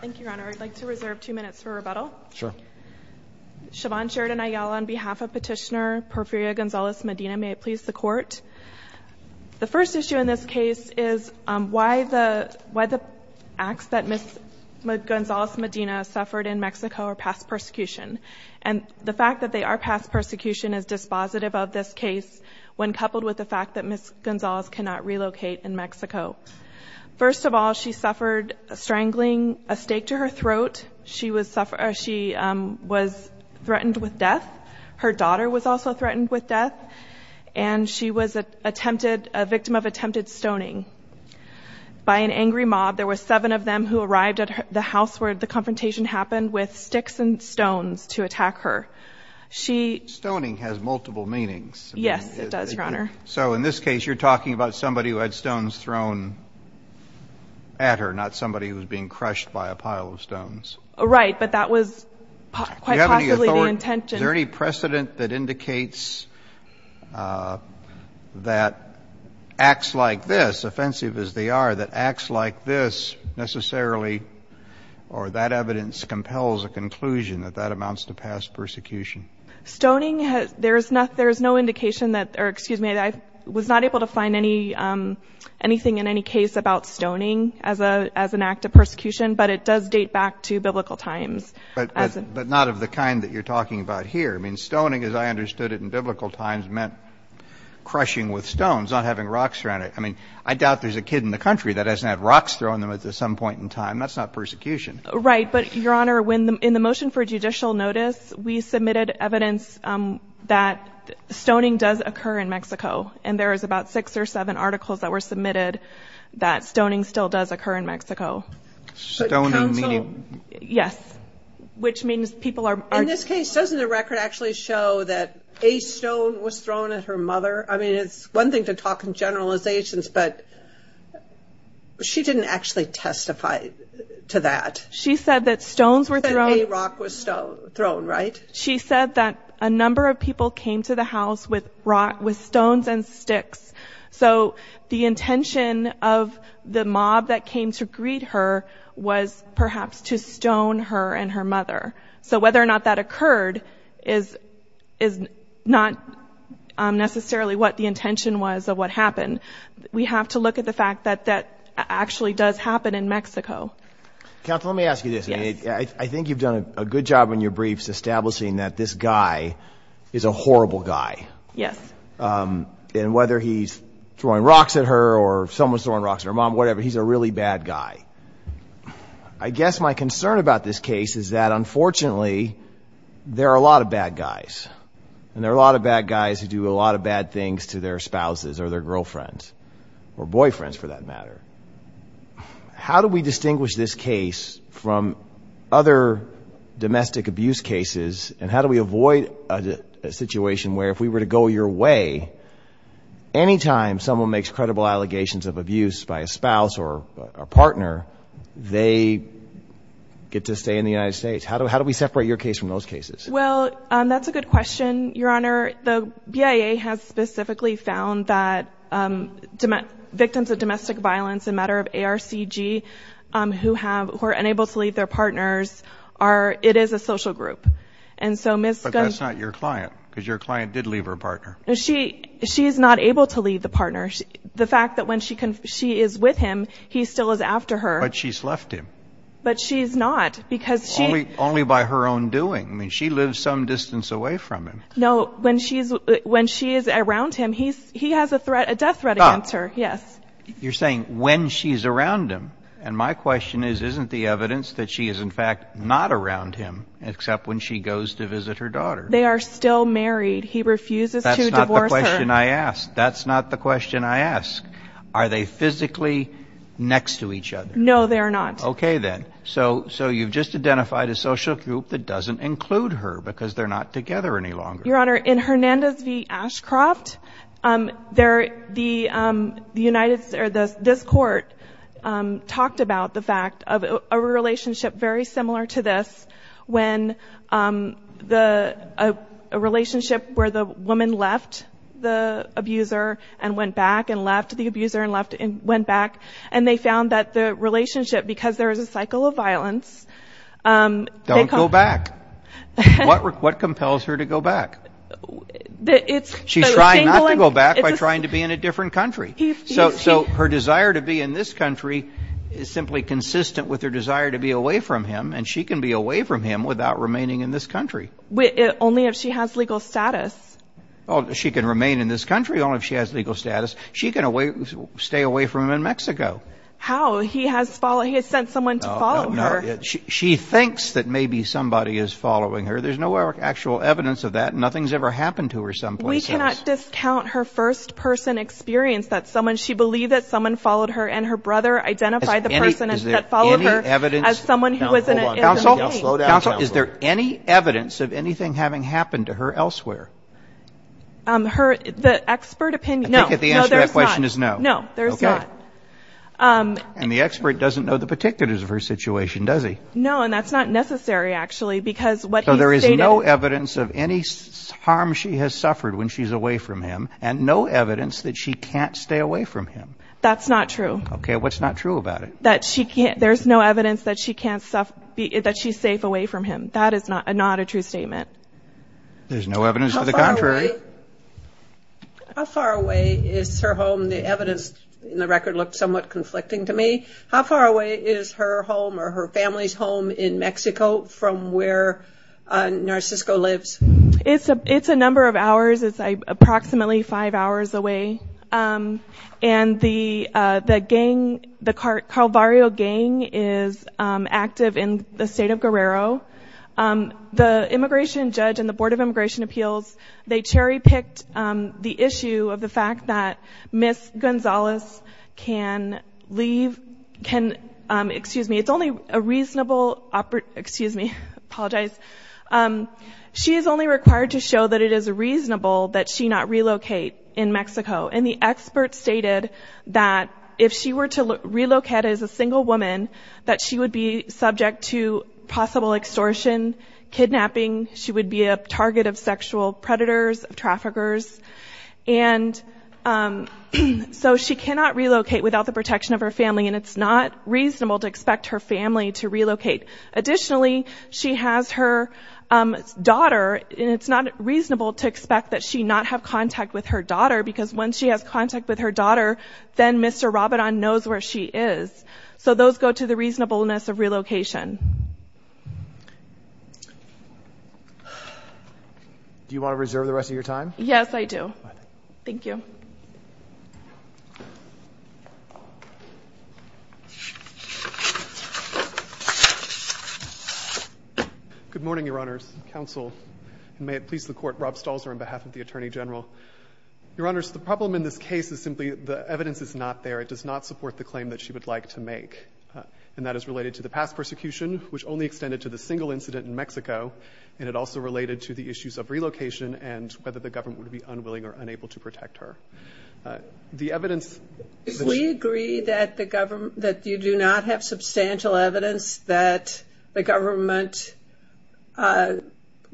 Thank You, Your Honor. I'd like to reserve two minutes for rebuttal. Sure. Siobhan Sheridan Ayala on behalf of Petitioner Porfiria Gonzalez-Medina. May it please the Court. The first issue in this case is why the why the acts that Ms. Gonzalez-Medina suffered in Mexico are past persecution. And the fact that they are past persecution is dispositive of this case when coupled with the fact that Ms. Gonzalez cannot relocate in Mexico. First of all, she suffered strangling, a stake to her throat. She was threatened with death. Her daughter was also threatened with death. And she was attempted, a victim of attempted stoning by an angry mob. There were seven of them who arrived at the house where the confrontation happened with sticks and stones to attack her. Stoning has multiple meanings. Yes, it does, Your Honor. So in this case, you're talking about somebody who had stones thrown at her, not somebody who was being crushed by a pile of stones. Right, but that was quite possibly the intention. Is there any precedent that indicates that acts like this, offensive as they are, that acts like this necessarily or that evidence compels a conclusion that that amounts to past persecution? Stoning has, there's no indication that, or excuse me, I was not able to find anything in any case about stoning as an act of persecution, but it does date back to biblical times. But not of the kind that you're talking about here. I mean, stoning, as I understood it in biblical times, meant crushing with stones, not having rocks thrown at it. I mean, I doubt there's a kid in the country that hasn't had rocks thrown at them at some point in time. That's not persecution. Right. But, Your Honor, in the motion for judicial notice, we submitted evidence that stoning does occur in Mexico, and there is about six or seven articles that were submitted that stoning still does occur in Mexico. Yes, which means people are... In this case, doesn't the record actually show that a stone was thrown at her mother? I mean, it's one thing to talk in generalizations, but she didn't actually testify to that. She said that stones were thrown... She said a rock was thrown, right? She said that a number of people came to the house with stones and sticks. So the intention of the mob that came to greet her was perhaps to stone her and her mother. So whether or not that occurred is not necessarily what the intention was of what happened. We have to look at the fact that that actually does happen in Mexico. Counsel, let me ask you this. I think you've done a good job in your briefs establishing that this guy is a horrible guy. Yes. And whether he's throwing rocks at her or someone's throwing rocks at her mom, whatever, he's a really bad guy. I guess my concern about this case is that, unfortunately, there are a lot of bad guys, and there are a lot of bad guys who do a lot of bad things to their spouses or their girlfriends or boyfriends, for that matter. How do we distinguish this case from other domestic abuse cases, and how do we avoid a situation where, if we were to go your way, anytime someone makes credible allegations of abuse by a spouse or a partner, they get to stay in the United States. How do we separate your case from those cases? Well, that's a good question, Your Honor. The BIA has specifically found that victims of domestic violence, a matter of ARCG, who are unable to leave their partners, it is a social group. But that's not your client, because your client did leave her partner. She is not able to leave the partner. The fact that when she is with him, he still is after her. But she's left him. But she's not, because she... Only by her own doing. I mean, she lives some distance away from him. No, when she is around him, he has a death threat against her. Yes. You're saying, when she's around him. And my question is, isn't the evidence that she is, in fact, not around him, except when she goes to visit her daughter? They are still married. He refuses to divorce her. That's not the question I asked. That's not the question I asked. Are they physically next to each other? No, they are not. Okay, then. So, you've just identified a social group that doesn't include her, because they're not together any longer. Your Honor, in Hernandez v. Ashcroft, this court talked about the fact of a relationship very similar to this, when a relationship where the woman left the abuser and went back, and left the abuser, and went back. And they found that the cycle of violence... Don't go back. What compels her to go back? She's trying not to go back by trying to be in a different country. So, her desire to be in this country is simply consistent with her desire to be away from him, and she can be away from him without remaining in this country. Only if she has legal status. Oh, she can remain in this country only if she has legal status. She can stay away from him in this country. She thinks that maybe somebody is following her. There's no actual evidence of that. Nothing's ever happened to her someplace else. We cannot discount her first-person experience. She believed that someone followed her, and her brother identified the person that followed her as someone who was in an intimate way. Counsel, is there any evidence of anything having happened to her elsewhere? The expert opinion... No. I think the answer to that question is no. No, there's not. And the expert doesn't know the particulars of her situation, does he? No, and that's not necessary, actually, because what he stated... So there is no evidence of any harm she has suffered when she's away from him, and no evidence that she can't stay away from him. That's not true. Okay, what's not true about it? That she can't... there's no evidence that she can't... that she's safe away from him. That is not a true statement. There's no evidence to the contrary. How far away is her home? The record looked somewhat conflicting to me. How far away is her home or her family's home in Mexico from where Narcisco lives? It's a number of hours. It's approximately five hours away, and the gang, the Calvario gang, is active in the state of Guerrero. The immigration judge and the Board of Immigration Appeals, they cherry-picked the issue of the fact that Miss Gonzales can leave... can... excuse me, it's only a reasonable... excuse me, I apologize. She is only required to show that it is reasonable that she not relocate in Mexico, and the expert stated that if she were to relocate as a single woman, that she would be subject to possible extortion, kidnapping, she would be a target of sexual predators, traffickers, and so she cannot relocate without the protection of her family, and it's not reasonable to expect her family to relocate. Additionally, she has her daughter, and it's not reasonable to expect that she not have contact with her daughter, because when she has contact with her daughter, then Mr. Rabidon knows where she is. So those go to the reasonableness of relocation. Do you want to reserve the rest of your time? Yes, I do. Thank you. Good morning, Your Honors. Counsel, and may it please the Court, Rob Stalzer on behalf of the Attorney General. Your Honors, the problem in this case is simply the evidence is not there. It does not support the claim that she would like to make, and that is related to the past persecution, which only extended to the single incident in Mexico, and it also related to the issues of relocation and whether the government would be unwilling or unable to protect her. The evidence... Do we agree that you do not have substantial evidence that the government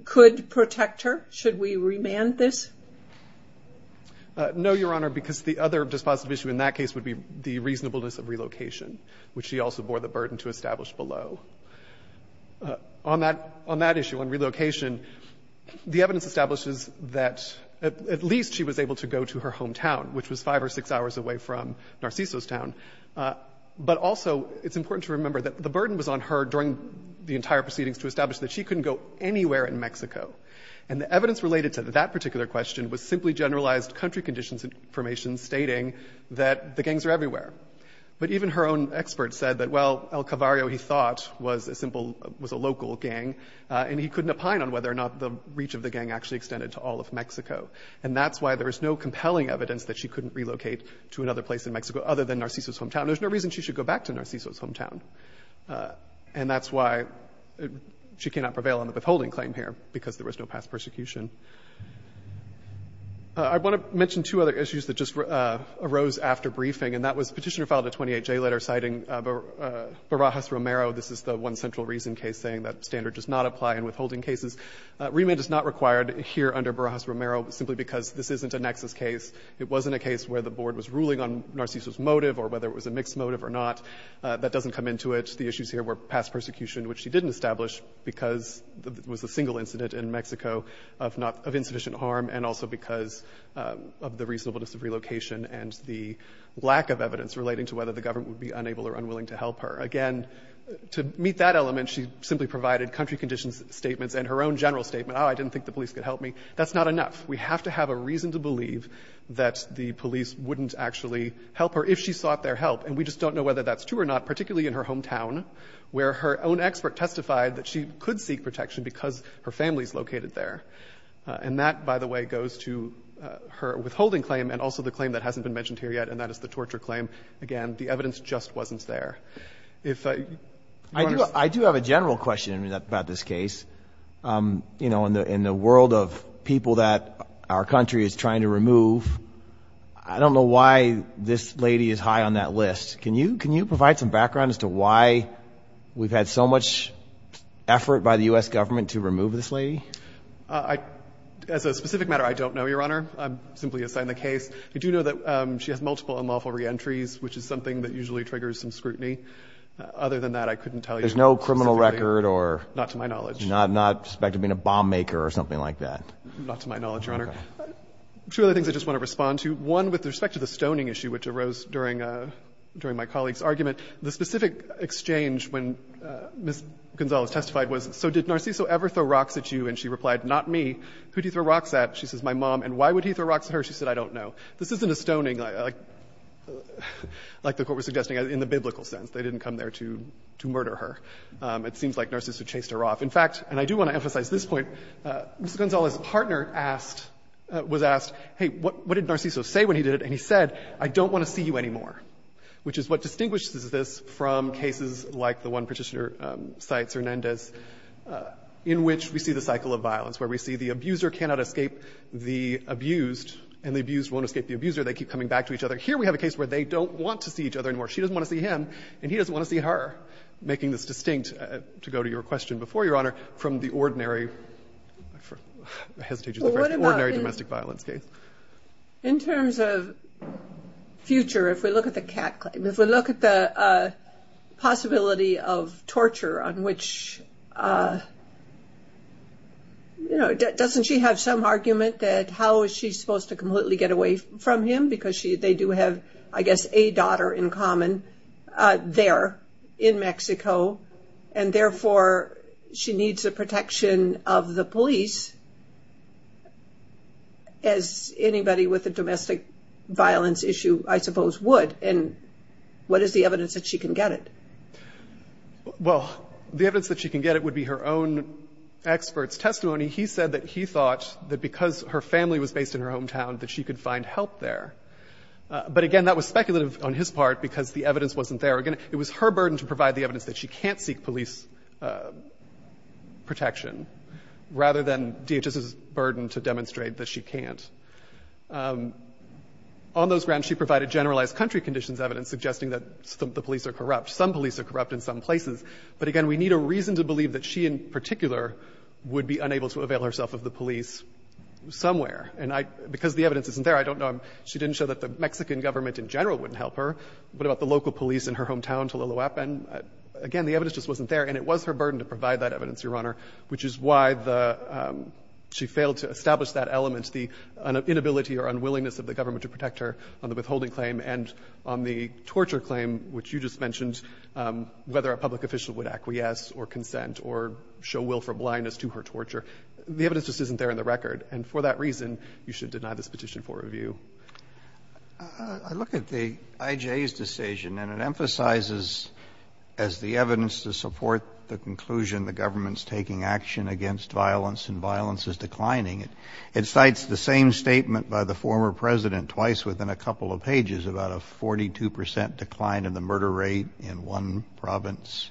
could protect her? Should we remand this? No, Your Honor, because the other dispositive issue in that case would be the reasonableness of On that issue, on relocation, the evidence establishes that at least she was able to go to her hometown, which was five or six hours away from Narciso's town, but also it's important to remember that the burden was on her during the entire proceedings to establish that she couldn't go anywhere in Mexico, and the evidence related to that particular question was simply generalized country conditions information stating that the gangs are everywhere, but even her own was a local gang, and he couldn't opine on whether or not the reach of the gang actually extended to all of Mexico, and that's why there is no compelling evidence that she couldn't relocate to another place in Mexico other than Narciso's hometown. There's no reason she should go back to Narciso's hometown, and that's why she cannot prevail on the withholding claim here, because there was no past persecution. I want to mention two other issues that just arose after briefing, and that was petitioner filed a 28-J letter citing Barajas Romero. This is the one central reason case saying that standard does not apply in withholding cases. Remand is not required here under Barajas Romero, simply because this isn't a nexus case. It wasn't a case where the board was ruling on Narciso's motive, or whether it was a mixed motive or not. That doesn't come into it. The issues here were past persecution, which she didn't establish because it was a single incident in Mexico of insufficient harm, and also because of the reasonableness of relocation and the lack of evidence relating to whether the government would be unable or unwilling to help her. Again, to meet that element, she simply provided country conditions statements and her own general statement, oh, I didn't think the police could help me. That's not enough. We have to have a reason to believe that the police wouldn't actually help her if she sought their help. And we just don't know whether that's true or not, particularly in her hometown, where her own expert testified that she could seek protection because her family's located there. And that, by the way, goes to her withholding claim and also the claim that hasn't been mentioned here yet, and that is the torture claim. Again, the evidence just wasn't there. If you want to say — I do have a general question about this case. You know, in the world of people that our country is trying to remove, I don't know why this lady is high on that list. Can you provide some background as to why we've had so much effort by the U.S. government to remove this lady? As a specific matter, I don't know, Your Honor. I'm simply assigned the case. I do know that she has multiple unlawful reentries, which is something that usually triggers some scrutiny. Other than that, I couldn't tell you specifically. There's no criminal record or — Not to my knowledge. Not suspected of being a bomb-maker or something like that. Not to my knowledge, Your Honor. Okay. Two other things I just want to respond to. One, with respect to the stoning issue, which arose during my colleague's argument, the specific exchange when Ms. Gonzalez testified was, so did Narciso ever throw rocks at you? And she replied, not me. Who did he throw rocks at? She says, my mom. And why would he throw rocks at her? She said, I don't know. This isn't a stoning, like the Court was in the biblical sense. They didn't come there to murder her. It seems like Narciso chased her off. In fact, and I do want to emphasize this point, Ms. Gonzalez's partner was asked, hey, what did Narciso say when he did it? And he said, I don't want to see you anymore, which is what distinguishes this from cases like the one Petitioner cites, Hernandez, in which we see the cycle of violence, where we see the abuser cannot escape the abused, and the abused won't escape the abuser. They keep coming back to each other. Here we have a case where they don't want to see each other anymore. She doesn't want to see him, and he doesn't want to see her, making this distinct, to go to your question before, Your Honor, from the ordinary domestic violence case. In terms of future, if we look at the cat claim, if we look at the possibility of torture on which, you know, doesn't she have some argument that how is she supposed to completely get away from him? Because they do have, I guess, a common there, in Mexico, and therefore, she needs the protection of the police, as anybody with a domestic violence issue, I suppose, would. And what is the evidence that she can get it? Well, the evidence that she can get it would be her own expert's testimony. He said that he thought that because her family was based in her hometown, that she could find help there. But again, that was speculative on his part, because the evidence wasn't there. Again, it was her burden to provide the evidence that she can't seek police protection, rather than DHS's burden to demonstrate that she can't. On those grounds, she provided generalized country conditions evidence, suggesting that the police are corrupt. Some police are corrupt in some places. But again, we need a reason to believe that she, in particular, would be I don't know. She didn't show that the Mexican government in general wouldn't help her. What about the local police in her hometown, Tliloapan? Again, the evidence just wasn't there. And it was her burden to provide that evidence, Your Honor, which is why she failed to establish that element, the inability or unwillingness of the government to protect her on the withholding claim and on the torture claim, which you just mentioned, whether a public official would acquiesce or consent or show willful blindness to her torture. The evidence just I look at the IJ's decision, and it emphasizes as the evidence to support the conclusion the government's taking action against violence, and violence is declining. It cites the same statement by the former President twice within a couple of pages, about a 42 percent decline in the murder rate in one province.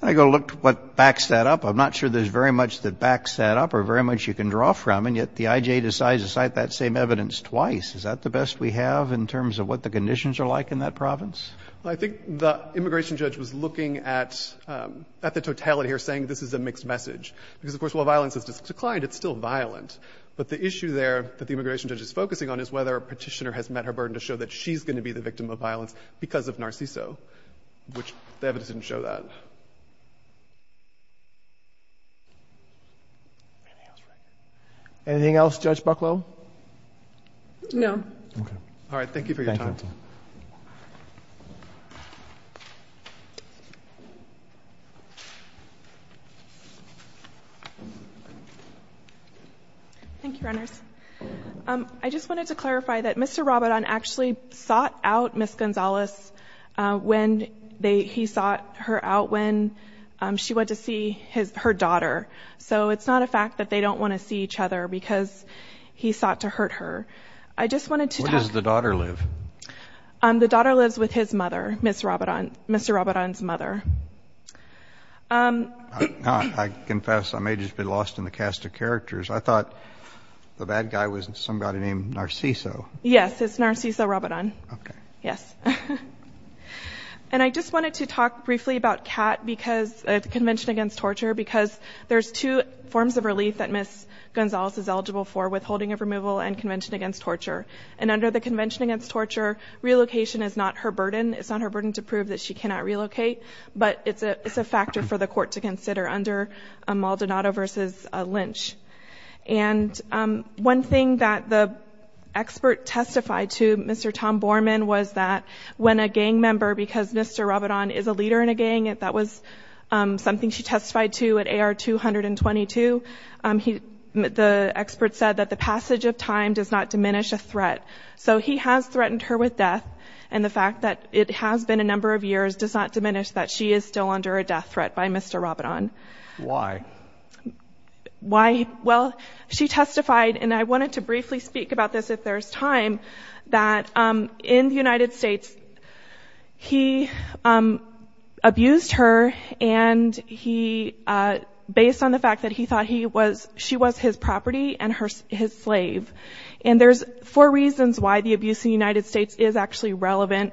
And I go to look at what backs that up. I'm not sure there's very much that backs that up or very much you can draw from, and yet the IJ decides to cite that same evidence twice. Is that the best we have in terms of what the conditions are like in that province? I think the immigration judge was looking at the totality here, saying this is a mixed message. Because, of course, while violence has declined, it's still violent. But the issue there that the immigration judge is focusing on is whether a petitioner has met her burden to show that she's going to be the victim of violence because of Narciso, which the evidence didn't show that. Anything else, Judge Bucklow? No. All right, thank you for your time. Thank you, Reynolds. I just wanted to clarify that Mr. Robidon actually sought out Ms. Gonzalez when they, he sought her out when she went to see his, her daughter. So it's not a fact that they don't want to see each other because he sought to hurt her. I just wanted to talk... Where does the daughter live? The daughter lives with his mother, Ms. Robidon, Mr. Robidon's mother. I confess I may just be lost in the cast of characters. I thought the bad guy was somebody named Narciso. Yes, it's Narciso Robidon. Okay. Yes. And I just wanted to talk briefly about CAT because, Convention Against Torture, because there's two forms of relief that Ms. Gonzalez is eligible for, withholding of removal and Convention Against Torture. And under the Convention Against Torture, relocation is not her burden. It's not her burden to prove that she cannot relocate, but it's a, it's a factor for the court to consider under Maldonado versus Lynch. And one thing that the expert testified to, Mr. Tom Borman, was that when a gang member, because Mr. Robidon is a leader in a gang, which he testified to at AR-222, he, the expert said that the passage of time does not diminish a threat. So he has threatened her with death, and the fact that it has been a number of years does not diminish that she is still under a death threat by Mr. Robidon. Why? Why? Well, she testified, and I wanted to briefly speak about this if there's time, that in the United States, he abused her and he, based on the fact that he thought he was, she was his property and her, his slave. And there's four reasons why the abuse in the United States is actually relevant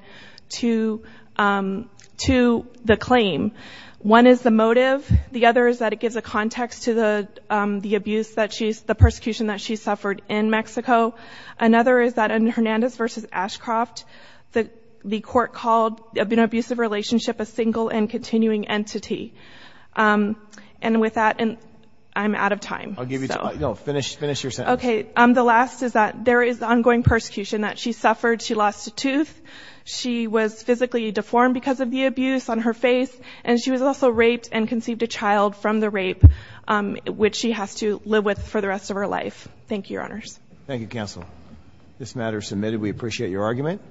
to, to the claim. One is the motive. The other is that it gives a context to the, the abuse that she's, the persecution that she suffered in Mexico. Another is that in Hernandez versus Ashcroft, the, the court called an abusive relationship a single and continuing entity. And with that, and I'm out of time. I'll give you, no, finish, finish your sentence. Okay, the last is that there is ongoing persecution that she suffered. She lost a tooth. She was physically deformed because of the abuse on her face, and she was also raped and conceived a child from the rape, which she has to live with for the rest of her life. Thank you, Your Honors. Thank you, counsel. This matter is submitted. We appreciate your argument.